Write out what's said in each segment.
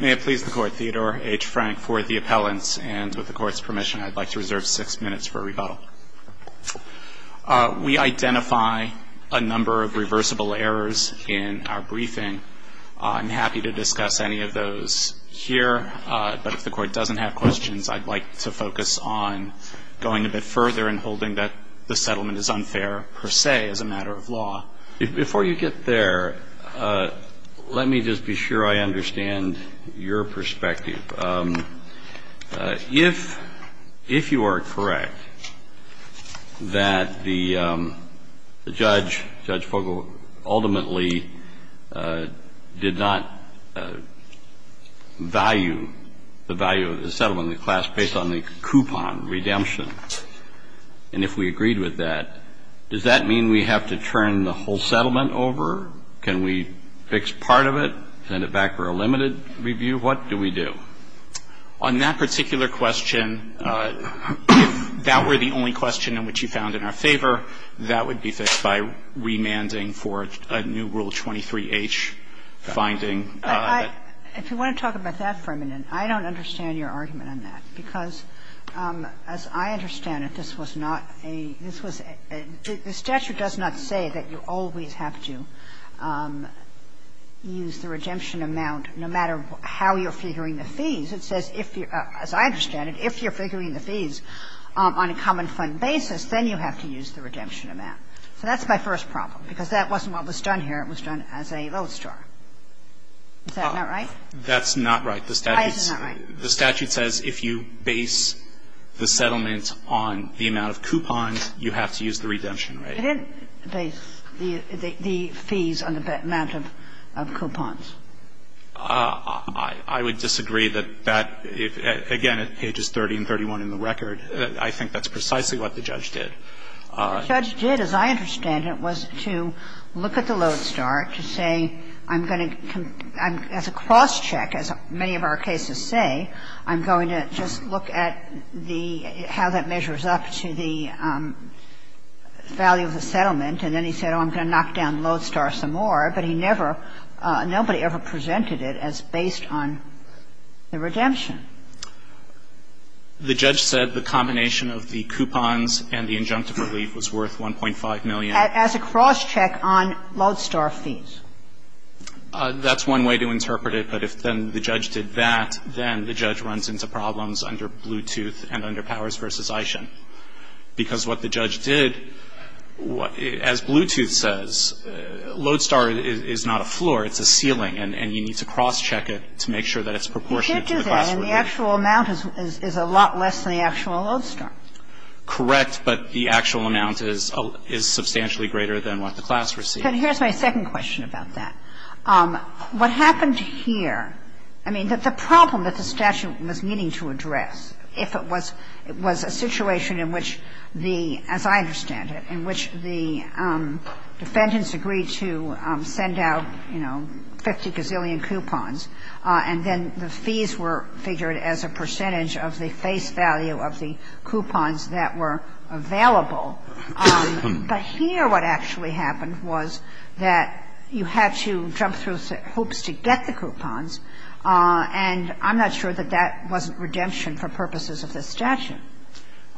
May it please the Court, Theodore H. Frank for the appellants, and with the Court's permission, I'd like to reserve six minutes for rebuttal. We identify a number of reversible errors in our briefing. I'm happy to discuss any of those here, but if the Court doesn't have questions, I'd like to focus on going a bit further and holding that the settlement is unfair, per se, as a matter of law. Before you get there, let me just be sure I understand your perspective. If you are correct that the judge, Judge Fogle, ultimately did not value the value of the settlement in the class based on the coupon redemption, and if we agreed with that, does that mean we have to turn the whole settlement over? Can we fix part of it, send it back for a limited review? What do we do? On that particular question, if that were the only question in which you found in our favor, that would be fixed by remanding for a new Rule 23H finding. If you want to talk about that for a minute, I don't understand your argument on that, because as I understand it, this was not a – this was a – the statute does not say that you always have to use the redemption amount, no matter how you're figuring the fees. It says if you – as I understand it, if you're figuring the fees on a common fund basis, then you have to use the redemption amount. So that's my first problem, because that wasn't what was done here. It was done as a load store. Is that not right? That's not right. The statute says if you base the settlement on the amount of coupons, you have to use the redemption rate. It didn't base the fees on the amount of coupons. I would disagree that that – again, at pages 30 and 31 in the record, I think that's precisely what the judge did. The judge did, as I understand it, was to look at the load store to say, I'm going to – as a cross-check, as many of our cases say, I'm going to just look at the – how that measures up to the value of the settlement. And then he said, oh, I'm going to knock down load store some more. But he never – nobody ever presented it as based on the redemption. The judge said the combination of the coupons and the injunctive relief was worth 1.5 million. As a cross-check on load store fees. That's one way to interpret it. But if then the judge did that, then the judge runs into problems under Bluetooth and under Powers v. Ishin. Because what the judge did, as Bluetooth says, load store is not a floor, it's a ceiling, and you need to cross-check it to make sure that it's proportionate to the class receipt. You can't do that. And the actual amount is a lot less than the actual load store. Correct. But the actual amount is substantially greater than what the class receipt. And here's my second question about that. What happened here, I mean, the problem that the statute was meaning to address if it was a situation in which the – as I understand it, in which the defendants agreed to send out, you know, 50 gazillion coupons, and then the fees were figured as a percentage of the face value of the coupons that were available, but here what actually happened was that you had to jump through hopes to get the coupons, and I'm not sure that that wasn't redemption for purposes of this statute.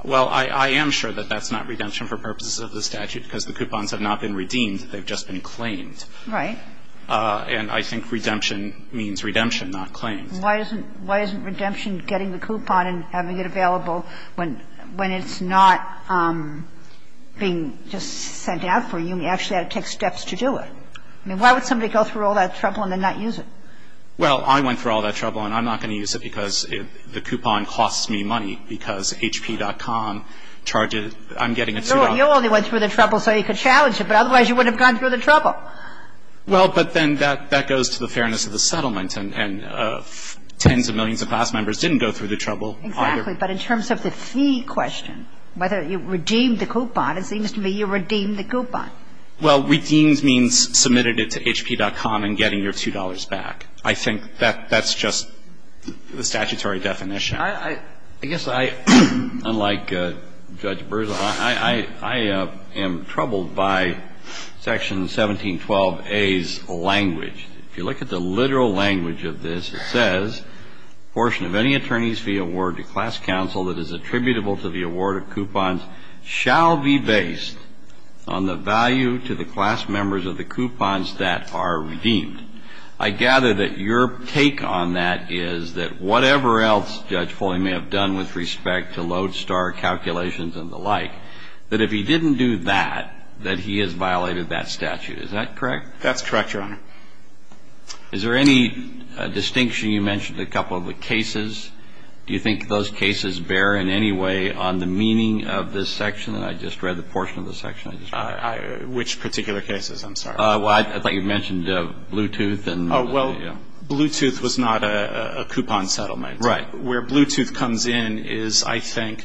Well, I am sure that that's not redemption for purposes of the statute because the coupons have not been redeemed, they've just been claimed. Right. And I think redemption means redemption, not claims. Why isn't redemption getting the coupon and having it available when it's not being just sent out for you and you actually have to take steps to do it? I mean, why would somebody go through all that trouble and then not use it? Well, I went through all that trouble and I'm not going to use it because the coupon costs me money because hp.com charges – I'm getting it through. You only went through the trouble so you could challenge it, but otherwise you wouldn't have gone through the trouble. Well, but then that goes to the fairness of the settlement, and tens of millions of class members didn't go through the trouble either. Exactly. But in terms of the fee question, whether you redeemed the coupon, it seems to me you redeemed the coupon. Well, redeemed means submitted it to hp.com and getting your $2 back. I think that that's just the statutory definition. I guess I, unlike Judge Brewer, I am troubled by Section 1712a's language. If you look at the literal language of this, it says, I gather that your take on that is that whatever else Judge Foley may have done with respect to lodestar calculations and the like, that if he didn't do that, that he has violated that statute. Is that correct? That's correct, Your Honor. Do you think those cases bear in any way on the meaning of this section? I just read the portion of the section. Which particular cases? I'm sorry. Well, I thought you mentioned Bluetooth. Oh, well, Bluetooth was not a coupon settlement. Right. Where Bluetooth comes in is, I think,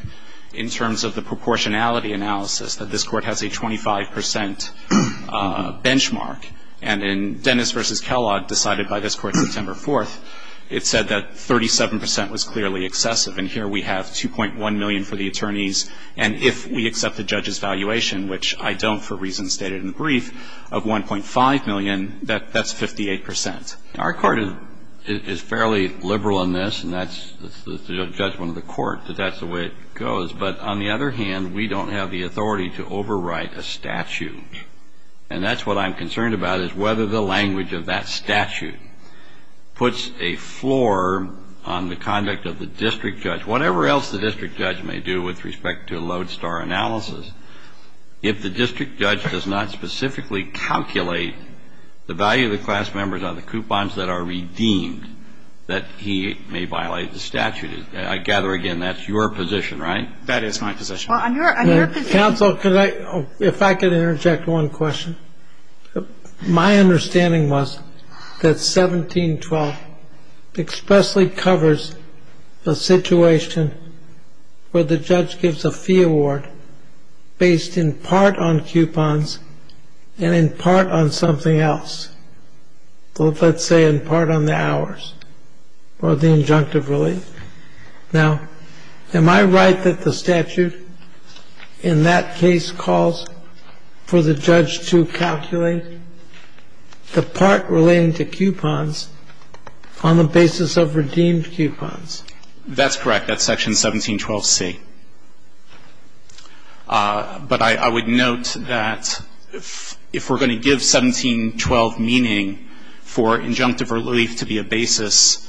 in terms of the proportionality analysis, that this Court has a 25 percent benchmark. And in Dennis v. Kellogg, decided by this Court September 4th, it said that 37 percent was clearly excessive. And here we have 2.1 million for the attorneys. And if we accept the judge's valuation, which I don't for reasons stated in the brief, of 1.5 million, that's 58 percent. Our Court is fairly liberal in this. And that's the judgment of the Court, that that's the way it goes. But on the other hand, we don't have the authority to overwrite a statute. And that's what I'm concerned about, is whether the language of that statute puts a floor on the conduct of the district judge. Whatever else the district judge may do with respect to a lodestar analysis, if the district judge does not specifically calculate the value of the class members on the coupons that are redeemed, that he may violate the statute. I gather, again, that's your position, right? Well, on your position ---- Counsel, if I could interject one question. My understanding was that 1712 expressly covers the situation where the judge gives a fee award based in part on coupons and in part on something else. Let's say in part on the hours or the injunctive relief. Now, am I right that the statute in that case calls for the judge to calculate the part relating to coupons on the basis of redeemed coupons? That's correct. That's Section 1712C. But I would note that if we're going to give 1712 meaning for injunctive relief to be a basis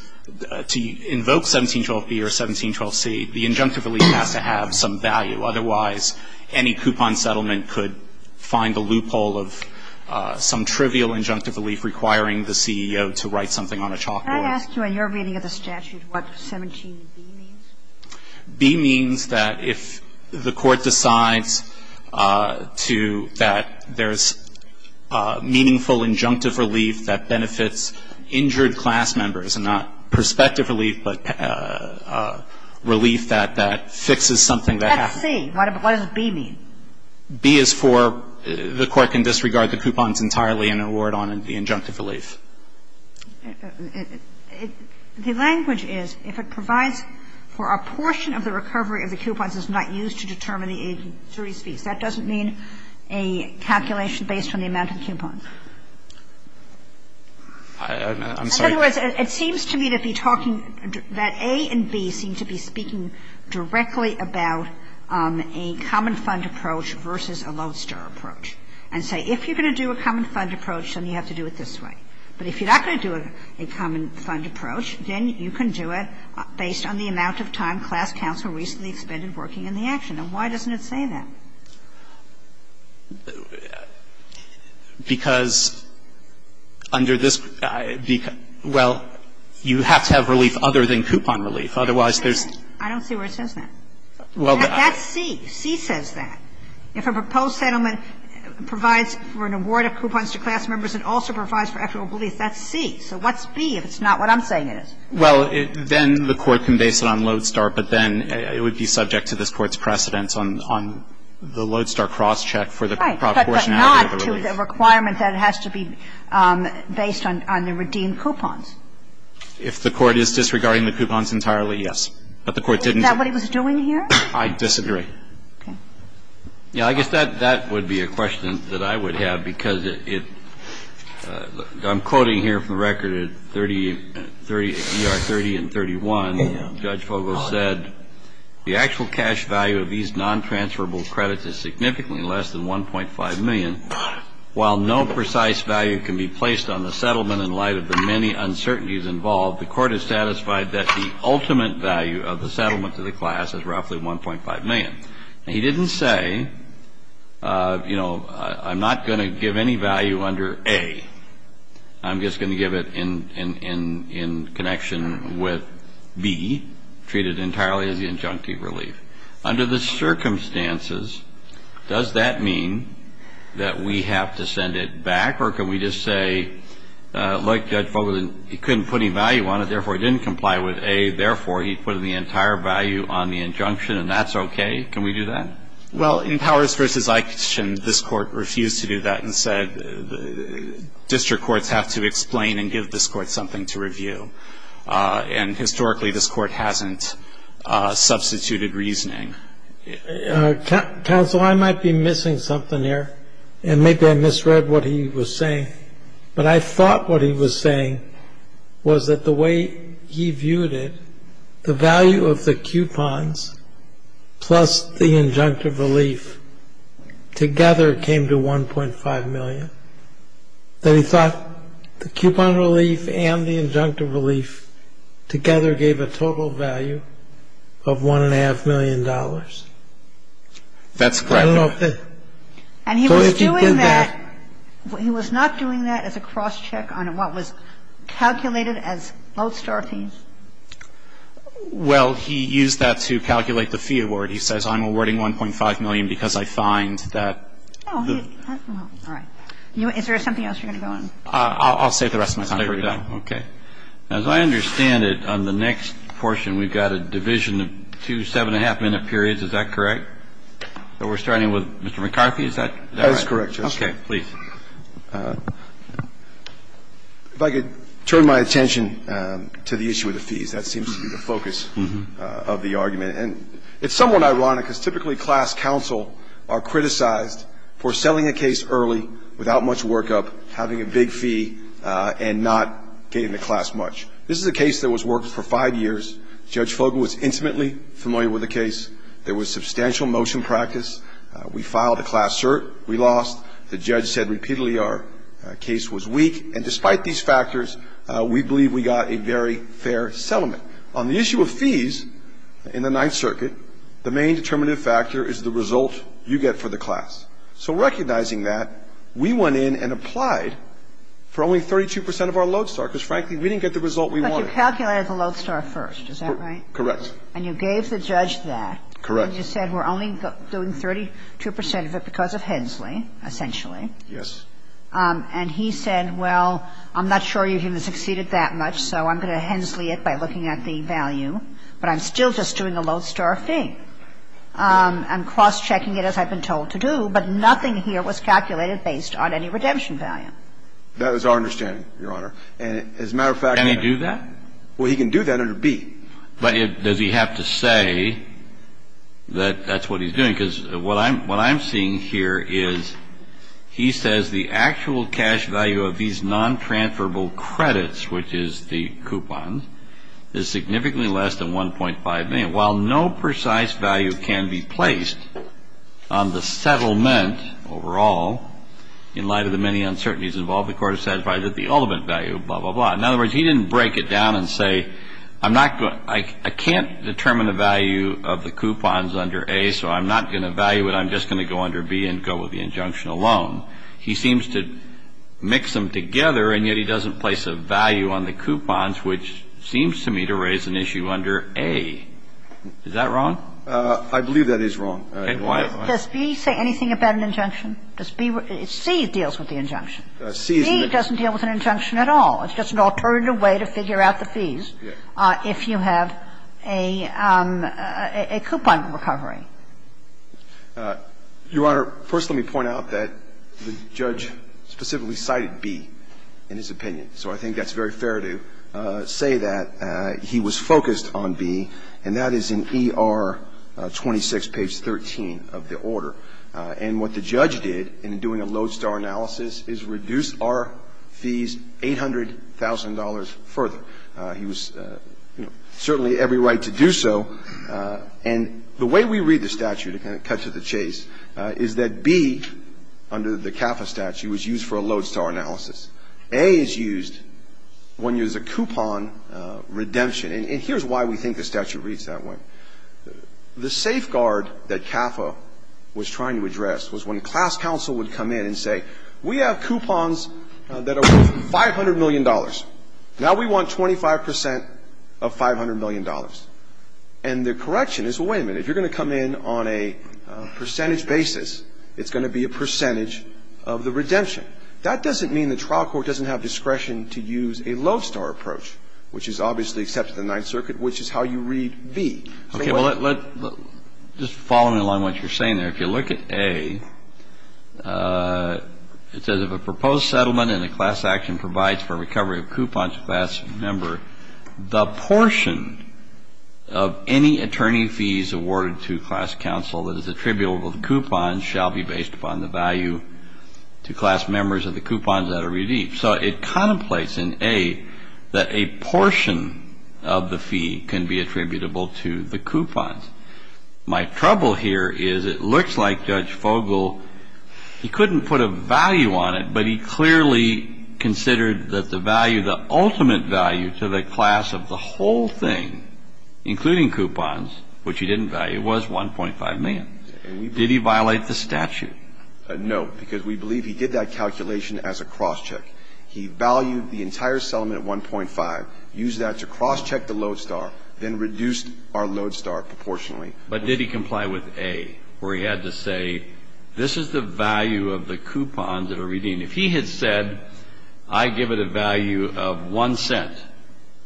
to invoke 1712B or 1712C, the injunctive relief has to have some value. Otherwise, any coupon settlement could find a loophole of some trivial injunctive relief requiring the CEO to write something on a chalkboard. Can I ask you, in your reading of the statute, what 17B means? B means that if the court decides to ---- that there's meaningful injunctive relief that benefits injured class members and not prospective relief, but relief that that fixes something that happens. That's C. What does B mean? B is for the court can disregard the coupons entirely and award on the injunctive relief. The language is if it provides for a portion of the recovery of the coupons is not used to determine the injury's fees. That doesn't mean a calculation based on the amount of the coupon. In other words, it seems to me to be talking that A and B seem to be speaking directly about a common fund approach versus a Lodestar approach and say if you're going to do a common fund approach, then you have to do it this way. But if you're not going to do a common fund approach, then you can do it based on the amount of time class counsel recently expended working in the action. And why doesn't it say that? Because under this ---- well, you have to have relief other than coupon relief. Otherwise, there's ---- I don't see where it says that. That's C. C says that. If a proposed settlement provides for an award of coupons to class members and also provides for equitable relief, that's C. So what's B if it's not what I'm saying it is? Well, then the court can base it on Lodestar, but then it would be subject to this the Lodestar crosscheck for the proportionality of the relief. Right, but not to the requirement that it has to be based on the redeemed coupons. If the court is disregarding the coupons entirely, yes. But the court didn't ---- Is that what he was doing here? I disagree. Okay. Yeah, I guess that would be a question that I would have because it ---- I'm quoting here from the record at 30 ER30 and 31, Judge Fogel said, The actual cash value of these non-transferable credits is significantly less than 1.5 million. While no precise value can be placed on the settlement in light of the many uncertainties involved, the court is satisfied that the ultimate value of the settlement to the class is roughly 1.5 million. Now, he didn't say, you know, I'm not going to give any value under A. I'm just going to give it in connection with B, treat it entirely as the injunctive relief. Under the circumstances, does that mean that we have to send it back? Or can we just say, like Judge Fogel, he couldn't put any value on it, therefore he didn't comply with A, therefore he put the entire value on the injunction and that's okay? Can we do that? Well, in Powers v. Eichten, this court refused to do that and said district courts have to explain and give this court something to review. And historically, this court hasn't substituted reasoning. Counsel, I might be missing something here, and maybe I misread what he was saying. But I thought what he was saying was that the way he viewed it, the value of the injunctive relief together came to 1.5 million. Then he thought the coupon relief and the injunctive relief together gave a total value of $1.5 million. That's correct. And he was doing that. He was not doing that as a cross-check on what was calculated as both star fees? Well, he used that to calculate the fee award. He says I'm awarding 1.5 million because I find that the ---- All right. Is there something else you're going to go on? I'll save the rest of my time. Okay. As I understand it, on the next portion, we've got a division of two 7-1⁄2-minute periods. Is that correct? We're starting with Mr. McCarthy. Is that right? That is correct, Justice. Okay. Please. If I could turn my attention to the issue of the fees, that seems to be the focus of the argument. And it's somewhat ironic because typically class counsel are criticized for selling a case early, without much workup, having a big fee, and not getting the class much. This is a case that was worked for five years. Judge Fogle was intimately familiar with the case. There was substantial motion practice. We filed a class cert. We lost. The judge said repeatedly our case was weak. And despite these factors, we believe we got a very fair settlement. On the issue of fees in the Ninth Circuit, the main determinative factor is the result you get for the class. So recognizing that, we went in and applied for only 32 percent of our lodestar because, frankly, we didn't get the result we wanted. But you calculated the lodestar first. Is that right? Correct. And you gave the judge that. Correct. And you said we're only doing 32 percent of it because of Hensley, essentially. Yes. And he said, well, I'm not sure you're going to succeed at that much, so I'm going to Hensley it by looking at the value. But I'm still just doing a lodestar fee. I'm cross-checking it, as I've been told to do, but nothing here was calculated based on any redemption value. That is our understanding, Your Honor. And as a matter of fact, we have to do that. Can he do that? Well, he can do that under B. But does he have to say that that's what he's doing? Because what I'm seeing here is he says the actual cash value of these non-transferable credits, which is the coupon, is significantly less than 1.5 million. While no precise value can be placed on the settlement overall in light of the many uncertainties involved, the Court has satisfied that the ultimate value, blah, blah, blah. In other words, he didn't break it down and say I'm not going to – I can't determine the value of the coupons under A, so I'm not going to value it. I'm just going to go under B and go with the injunction alone. He seems to mix them together, and yet he doesn't place a value on the coupons, which seems to me to raise an issue under A. Is that wrong? I believe that is wrong. Why? Does B say anything about an injunction? Does B – C deals with the injunction. C doesn't deal with an injunction at all. It's just an alternative way to figure out the fees if you have a coupon recovery. Your Honor, first let me point out that the judge specifically cited B in his opinion. So I think that's very fair to say that he was focused on B, and that is in ER 26, page 13 of the order. And what the judge did in doing a lodestar analysis is reduce our fees $800,000 further. He was, you know, certainly every right to do so. And the way we read the statute, to kind of cut to the chase, is that B under the CAFA statute was used for a lodestar analysis. A is used when there's a coupon redemption. And here's why we think the statute reads that way. The safeguard that CAFA was trying to address was when class counsel would come in and say, we have coupons that are worth $500 million. Now we want 25% of $500 million. And the correction is, well, wait a minute, if you're going to come in on a percentage basis, it's going to be a percentage of the redemption. That doesn't mean the trial court doesn't have discretion to use a lodestar approach, which is obviously accepted in the Ninth Circuit, which is how you read B. Okay, well, just following along what you're saying there, if you look at A, it says, if a proposed settlement in a class action provides for recovery of coupons to a class member, the portion of any attorney fees awarded to class counsel that is attributable to coupons shall be based upon the value to class members of the coupons that are redeemed. So it contemplates in A that a portion of the fee can be attributable to the coupons. My trouble here is it looks like Judge Fogel, he couldn't put a value on it, but he clearly considered that the value, the ultimate value to the class of the whole thing, including coupons, which he didn't value, was $1.5 million. Did he violate the statute? No, because we believe he did that calculation as a crosscheck. He valued the entire settlement at $1.5, used that to crosscheck the lodestar, then reduced our lodestar proportionally. But did he comply with A, where he had to say, this is the value of the coupons that are redeemed? If he had said, I give it a value of one cent,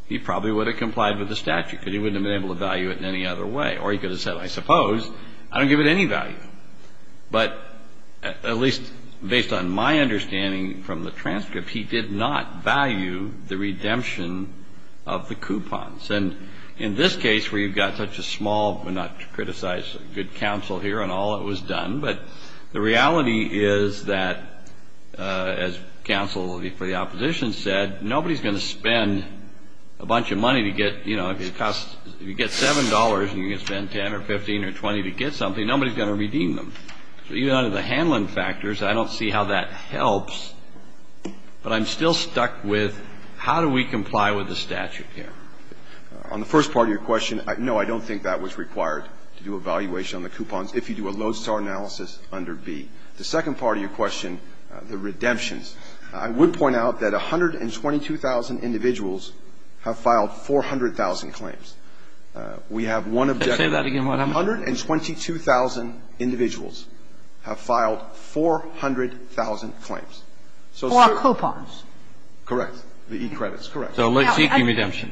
he probably would have complied with the statute because he wouldn't have been able to value it in any other way. Or he could have said, I suppose, I don't give it any value. But at least based on my understanding from the transcript, he did not value the redemption of the coupons. And in this case, where you've got such a small, not to criticize good counsel here on all that was done, but the reality is that, as counsel for the opposition said, nobody's going to spend a bunch of money to get, you know, if you get $7 and you can spend $10 or $15 or $20 to get something, nobody's going to redeem them. So even under the handling factors, I don't see how that helps. But I'm still stuck with how do we comply with the statute here? On the first part of your question, no, I don't think that was required to do evaluation on the coupons if you do a lodestar analysis under B. The second part of your question, the redemptions, I would point out that 122,000 individuals have filed 400,000 claims. We have one objective. Say that again. 122,000 individuals have filed 400,000 claims. Four coupons. Correct. The e-credits. Correct. So seeking redemption.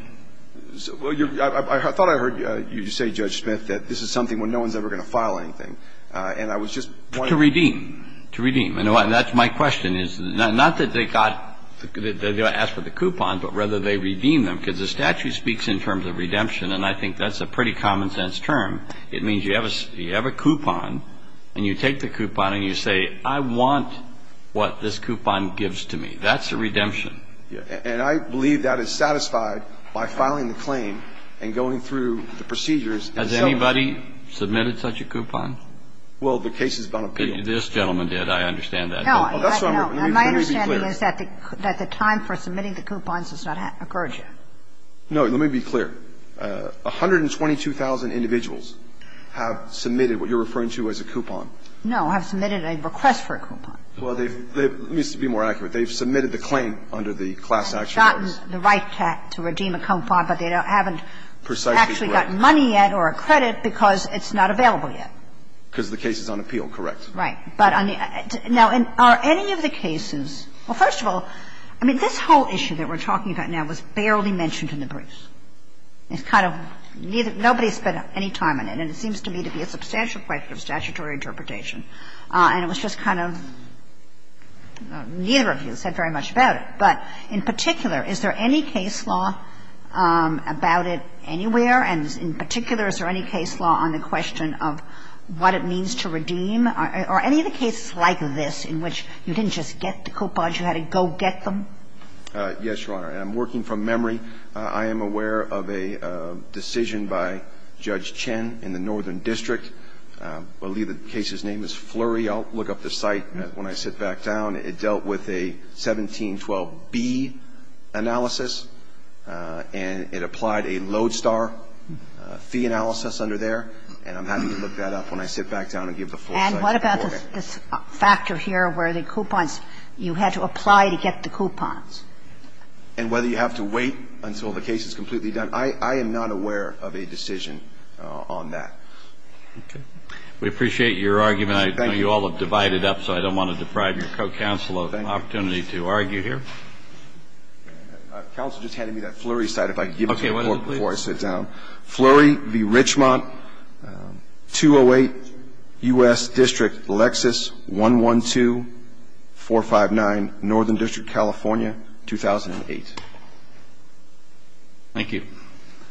I thought I heard you say, Judge Smith, that this is something where no one's ever going to file anything. And I was just wondering. To redeem. To redeem. And that's my question, is not that they got to ask for the coupon, but rather they It means you have a coupon and you take the coupon and you say, I want what this coupon gives to me. That's a redemption. And I believe that is satisfied by filing the claim and going through the procedures Has anybody submitted such a coupon? Well, the case has gone appeal. This gentleman did. I understand that. No. My understanding is that the time for submitting the coupons has not occurred yet. No. Let me be clear. 122,000 individuals have submitted what you're referring to as a coupon. No. Have submitted a request for a coupon. Well, they've been more accurate. They've submitted the claim under the class action orders. They've gotten the right to redeem a coupon, but they haven't actually gotten money yet or a credit because it's not available yet. Because the case is on appeal. Correct. Right. Now, are any of the cases, well, first of all, I mean, this whole issue that we're talking about now was barely mentioned in the briefs. It's kind of neither of you, nobody spent any time on it, and it seems to me to be a substantial question of statutory interpretation. And it was just kind of neither of you said very much about it. But in particular, is there any case law about it anywhere? And in particular, is there any case law on the question of what it means to redeem? Are any of the cases like this in which you didn't just get the coupons? You had to go get them? Yes, Your Honor. And I'm working from memory. I am aware of a decision by Judge Chen in the Northern District. I believe the case's name is Flurry. I'll look up the site when I sit back down. It dealt with a 1712B analysis, and it applied a lodestar fee analysis under there. And I'm happy to look that up when I sit back down and give the full site report. And what about this factor here where the coupons, you had to apply to get the coupons? And whether you have to wait until the case is completely done, I am not aware of a decision on that. Okay. We appreciate your argument. Thank you. I know you all have divided up, so I don't want to deprive your co-counsel of an opportunity to argue here. Thank you. Counsel just handed me that Flurry site. If I could give it to you before I sit down. Okay. Flurry v. Richmont, 208 U.S. District, Lexus, 112-459, Northern District, California, 2008. Thank you.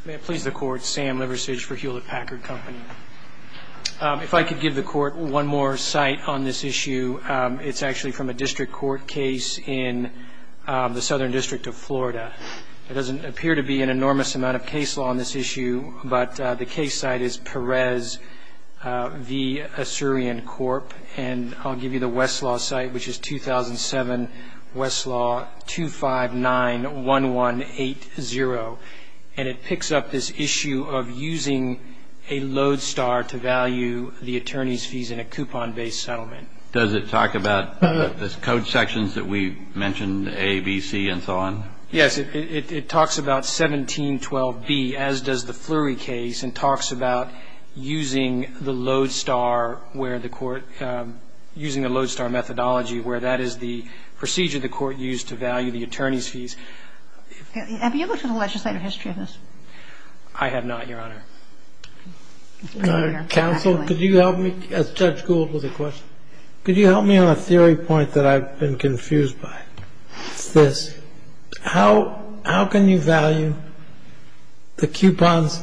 May it please the Court, Sam Liversidge for Hewlett Packard Company. If I could give the Court one more site on this issue, it's actually from a district court case in the Southern District of Florida. It doesn't appear to be an enormous amount of case law on this issue, but the case site is Perez v. Assyrian Corp. And I'll give you the Westlaw site, which is 2007, Westlaw, 259-1180. And it picks up this issue of using a load star to value the attorney's fees in a coupon-based settlement. Does it talk about the code sections that we mentioned, A, B, C, and so on? Yes. It talks about 1712B, as does the Flurry case, and talks about using the load star where the court using the load star methodology where that is the procedure the court used to value the attorney's fees. Have you looked at the legislative history of this? I have not, Your Honor. Counsel, could you help me? Judge Gould has a question. Could you help me on a theory point that I've been confused by? It's this. How can you value the coupons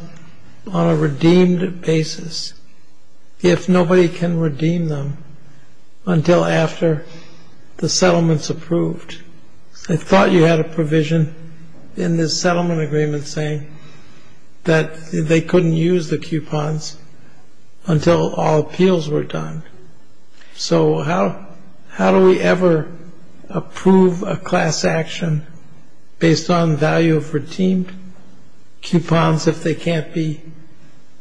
on a redeemed basis if nobody can redeem them until after the settlement's approved? I thought you had a provision in this settlement agreement saying that they couldn't use the coupons until all appeals were done. That's correct. So how do we ever approve a class action based on the value of redeemed coupons if they can't be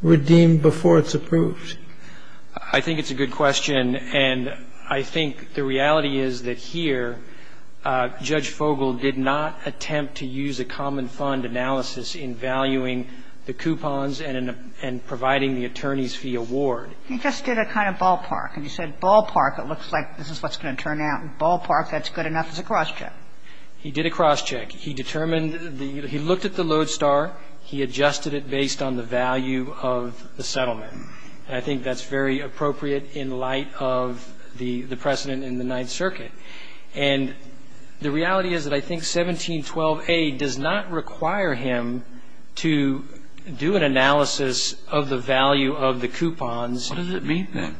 redeemed before it's approved? I think it's a good question, and I think the reality is that here Judge Fogel did not attempt to use a common fund analysis in valuing the coupons and providing the attorney's fee award. He just did a kind of ballpark. And he said ballpark, it looks like this is what's going to turn out. And ballpark, that's good enough as a crosscheck. He did a crosscheck. He determined the – he looked at the lodestar. He adjusted it based on the value of the settlement. And I think that's very appropriate in light of the precedent in the Ninth Circuit. And the reality is that I think 1712A does not require him to do an analysis of the value of the coupons. What does it mean, then?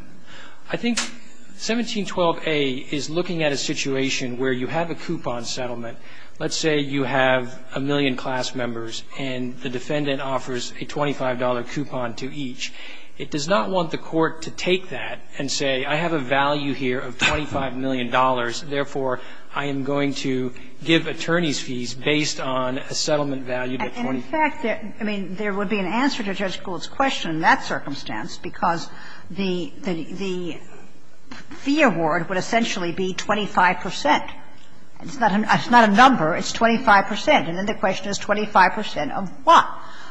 I think 1712A is looking at a situation where you have a coupon settlement. Let's say you have a million class members and the defendant offers a $25 coupon to each. It does not want the court to take that and say I have a value here of $25 million, therefore I am going to give attorney's fees based on a settlement value of $25. In fact, I mean, there would be an answer to Judge Gould's question in that circumstance because the fee award would essentially be 25 percent. It's not a number. It's 25 percent. And then the question is 25 percent of what?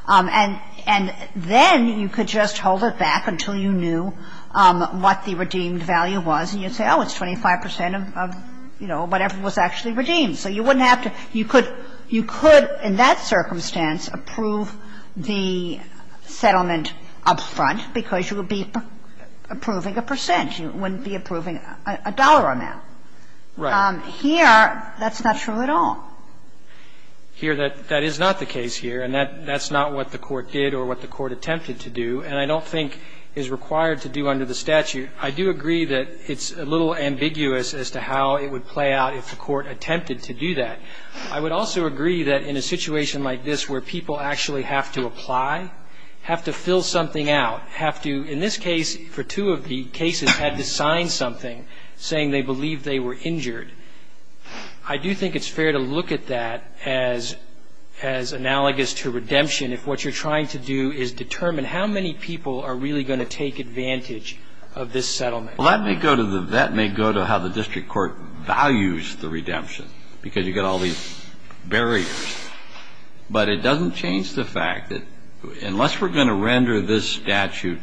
And then you could just hold it back until you knew what the redeemed value was, and you'd say, oh, it's 25 percent of, you know, whatever was actually redeemed. So you wouldn't have to, you could, in that circumstance, approve the settlement up front because you would be approving a percent. You wouldn't be approving a dollar amount. Right. Here, that's not true at all. Here, that is not the case here, and that's not what the court did or what the court attempted to do, and I don't think is required to do under the statute. I do agree that it's a little ambiguous as to how it would play out if the court attempted to do that. I would also agree that in a situation like this where people actually have to apply, have to fill something out, have to, in this case, for two of the cases, had to sign something saying they believed they were injured, I do think it's fair to look at that as analogous to redemption if what you're trying to do is determine how many people are really going to take advantage of this settlement. Well, that may go to the, that may go to how the district court values the redemption because you've got all these barriers. But it doesn't change the fact that unless we're going to render this statute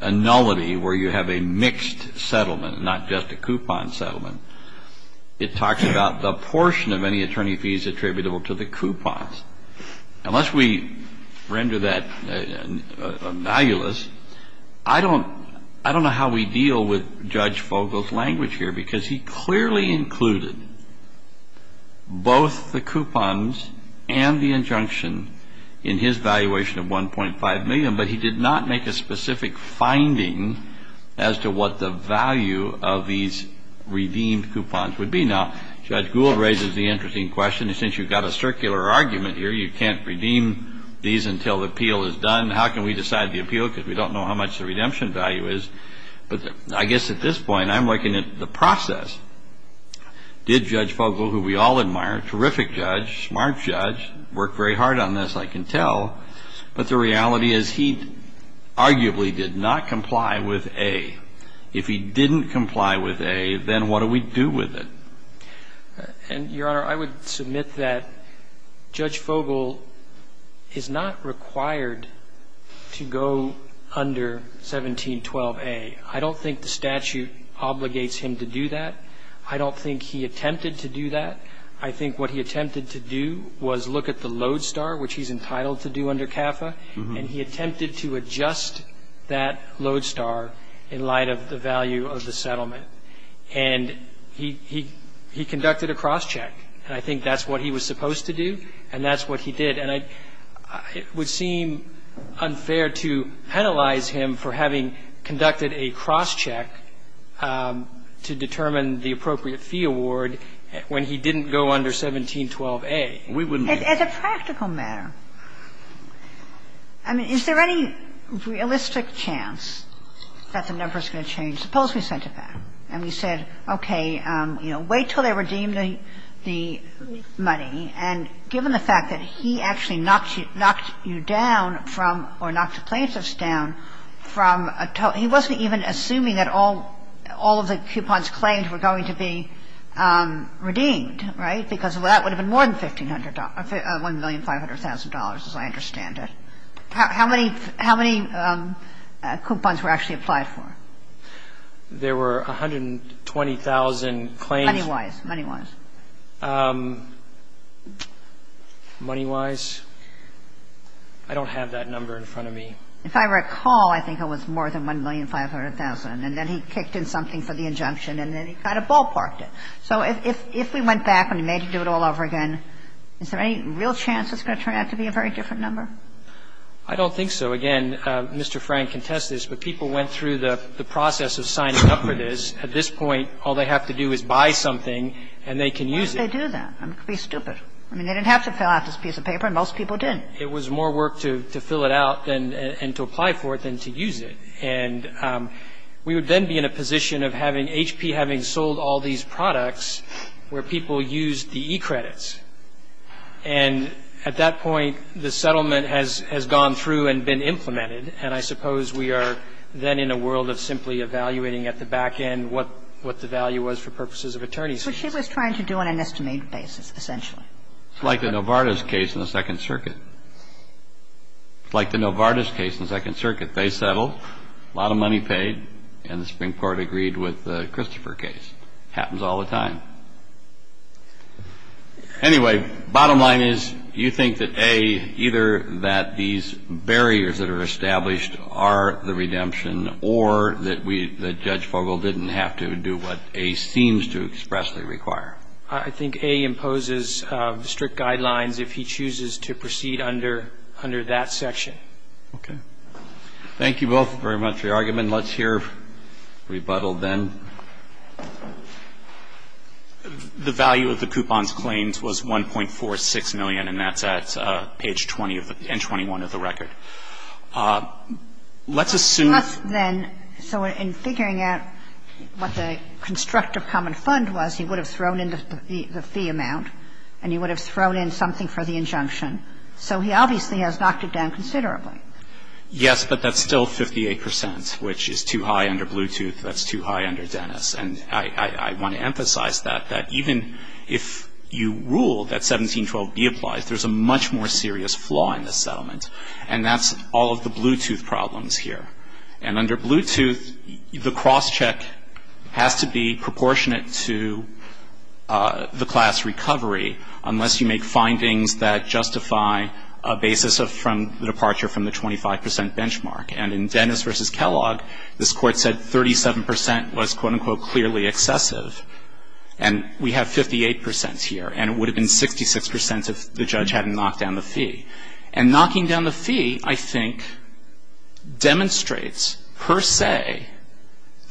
a nullity where you have a mixed settlement and not just a coupon settlement, it talks about the portion of any attorney fees attributable to the coupons. Unless we render that analogous, I don't, I don't know how we deal with Judge Fogle's language here because he clearly included both the coupons and the injunction in his valuation of 1.5 million, but he did not make a specific finding as to what the value of these redeemed coupons would be. Now, Judge Gould raises the interesting question. Since you've got a circular argument here, you can't redeem these until the appeal is done. How can we decide the appeal? Because we don't know how much the redemption value is. But I guess at this point, I'm looking at the process. Did Judge Fogle, who we all admire, terrific judge, smart judge, worked very hard on this, I can tell. But the reality is he arguably did not comply with A. If he didn't comply with A, then what do we do with it? And, Your Honor, I would submit that Judge Fogle is not required to go under 1712A. I don't think the statute obligates him to do that. I don't think he attempted to do that. I think what he attempted to do was look at the lodestar, which he's entitled to do under CAFA, and he attempted to adjust that lodestar in light of the value of the settlement. And he conducted a cross-check. And I think that's what he was supposed to do, and that's what he did. And it would seem unfair to penalize him for having conducted a cross-check to determine the appropriate fee award when he didn't go under 1712A. We wouldn't do that. As a practical matter, I mean, is there any realistic chance that the number's going to change? I mean, let's suppose we sent it back and we said, okay, wait till they redeem the money. And given the fact that he actually knocked you down from or knocked the plaintiffs down from a total – he wasn't even assuming that all of the coupons claimed were going to be redeemed, right, because that would have been more than $1,500,000, as I understand it. How many coupons were actually applied for? There were 120,000 claims. Money-wise, money-wise. Money-wise? I don't have that number in front of me. If I recall, I think it was more than $1,500,000, and then he kicked in something for the injunction, and then he kind of ballparked it. So if we went back and we made him do it all over again, is there any real chance it's going to turn out to be a very different number? I don't think so. Again, Mr. Frank can test this, but people went through the process of signing up for this. At this point, all they have to do is buy something and they can use it. Why would they do that? It would be stupid. I mean, they didn't have to fill out this piece of paper, and most people did. It was more work to fill it out and to apply for it than to use it. And we would then be in a position of having HP having sold all these products where people used the e-credits. And at that point, the settlement has gone through and been implemented, and I suppose we are then in a world of simply evaluating at the back end what the value was for purposes of attorney's fees. But she was trying to do it on an estimated basis, essentially. It's like the Novartis case in the Second Circuit. It's like the Novartis case in the Second Circuit. They settled, a lot of money paid, and the Supreme Court agreed with the Christopher case. Happens all the time. Anyway, bottom line is, you think that A, either that these barriers that are established are the redemption or that Judge Fogel didn't have to do what A seems to expressly require? I think A imposes strict guidelines if he chooses to proceed under that section. Okay. Thank you both very much for your argument. Let's hear rebuttal then. The value of the coupon's claims was $1.46 million, and that's at page 20 and 21 of the record. Let's assume then, so in figuring out what the constructive common fund was, he would have thrown in the fee amount, and he would have thrown in something for the injunction. So he obviously has knocked it down considerably. Yes, but that's still 58 percent, which is too high under Bluetooth. That's too high under data. I agree with Dennis, and I want to emphasize that, that even if you rule that 1712B applies, there's a much more serious flaw in this settlement, and that's all of the Bluetooth problems here. And under Bluetooth, the cross-check has to be proportionate to the class recovery unless you make findings that justify a basis from the departure from the 25 percent benchmark. And in Dennis versus Kellogg, this court said 37 percent was, quote-unquote, clearly excessive. And we have 58 percent here, and it would have been 66 percent if the judge hadn't knocked down the fee. And knocking down the fee, I think, demonstrates, per se,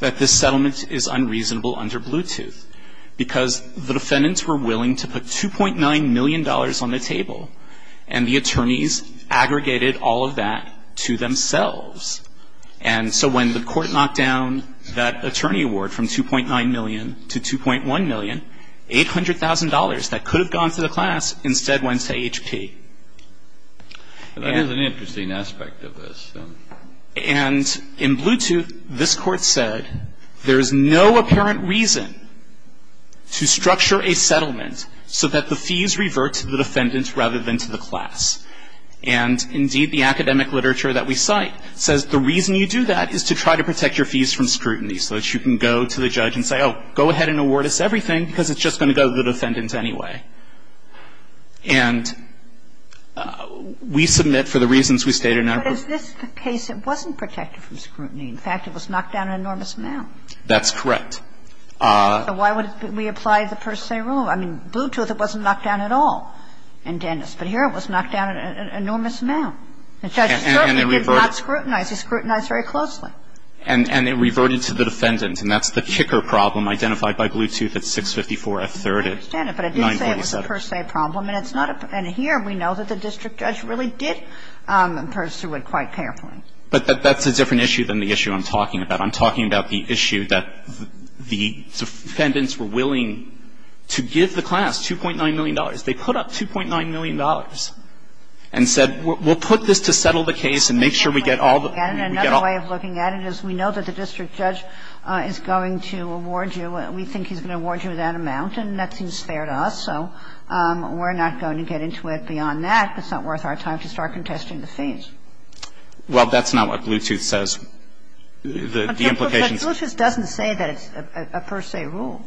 that this settlement is unreasonable under Bluetooth because the defendants were willing to put $2.9 million on the table, and the attorneys aggregated all of that to themselves. And so when the court knocked down that attorney award from $2.9 million to $2.1 million, $800,000 that could have gone to the class instead went to HP. That is an interesting aspect of this. And in Bluetooth, this court said there is no apparent reason to structure a settlement so that the fees revert to the defendants rather than to the class. And indeed, the academic literature that we cite says the reason you do that is to try to protect your fees from scrutiny, so that you can go to the judge and say, oh, go ahead and award us everything because it's just going to go to the defendants anyway. And we submit for the reasons we stated in our brief. But is this the case that wasn't protected from scrutiny? In fact, it was knocked down an enormous amount. That's correct. But why would we apply the per se rule? I mean, Bluetooth, it wasn't knocked down at all in Dennis. But here it was knocked down an enormous amount. The judge certainly did not scrutinize. He scrutinized very closely. And it reverted to the defendant. And that's the kicker problem identified by Bluetooth at 654F3rd at 947. I understand it, but it didn't say it was a per se problem. And it's not a per se. And here we know that the district judge really did pursue it quite carefully. But that's a different issue than the issue I'm talking about. I'm talking about the issue that the defendants were willing to give the class $2.9 million. They put up $2.9 million and said, we'll put this to settle the case and make sure we get all the ---- And another way of looking at it is we know that the district judge is going to award you. We think he's going to award you that amount. And that seems fair to us. So we're not going to get into it beyond that. It's not worth our time to start contesting the fees. Well, that's not what Bluetooth says. The implications are that the district judge is going to award you $2.9 million. And that's the implication. But Bluetooth doesn't say that it's a per se rule.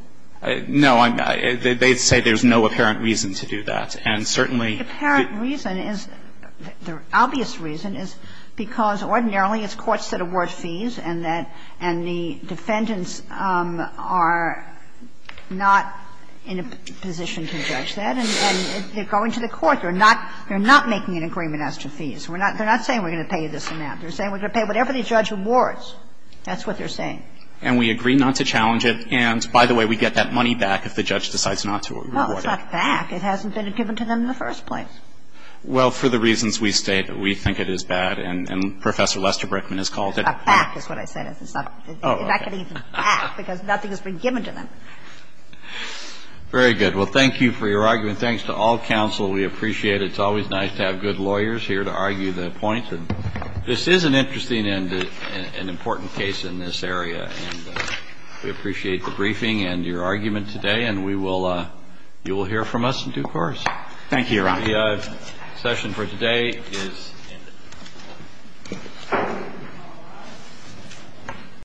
No. They say there's no apparent reason to do that. And certainly the ---- The apparent reason is the obvious reason is because ordinarily it's courts that award fees and that the defendants are not in a position to judge that. And if you go into the court, you're not making an agreement as to fees. They're not saying we're going to pay you this amount. They're saying we're going to pay whatever the judge awards. That's what they're saying. And we agree not to challenge it. And, by the way, we get that money back if the judge decides not to award it. Well, it's not back. It hasn't been given to them in the first place. Well, for the reasons we state, we think it is bad. And Professor Lester Brickman has called it ---- It's not back is what I said. It's not getting back because nothing has been given to them. Very good. Well, thank you for your argument. Thanks to all counsel. We appreciate it. It's always nice to have good lawyers here to argue the points. And this is an interesting and important case in this area. And we appreciate the briefing and your argument today. And we will ---- you will hear from us in due course. Thank you, Your Honor. The session for today is ended.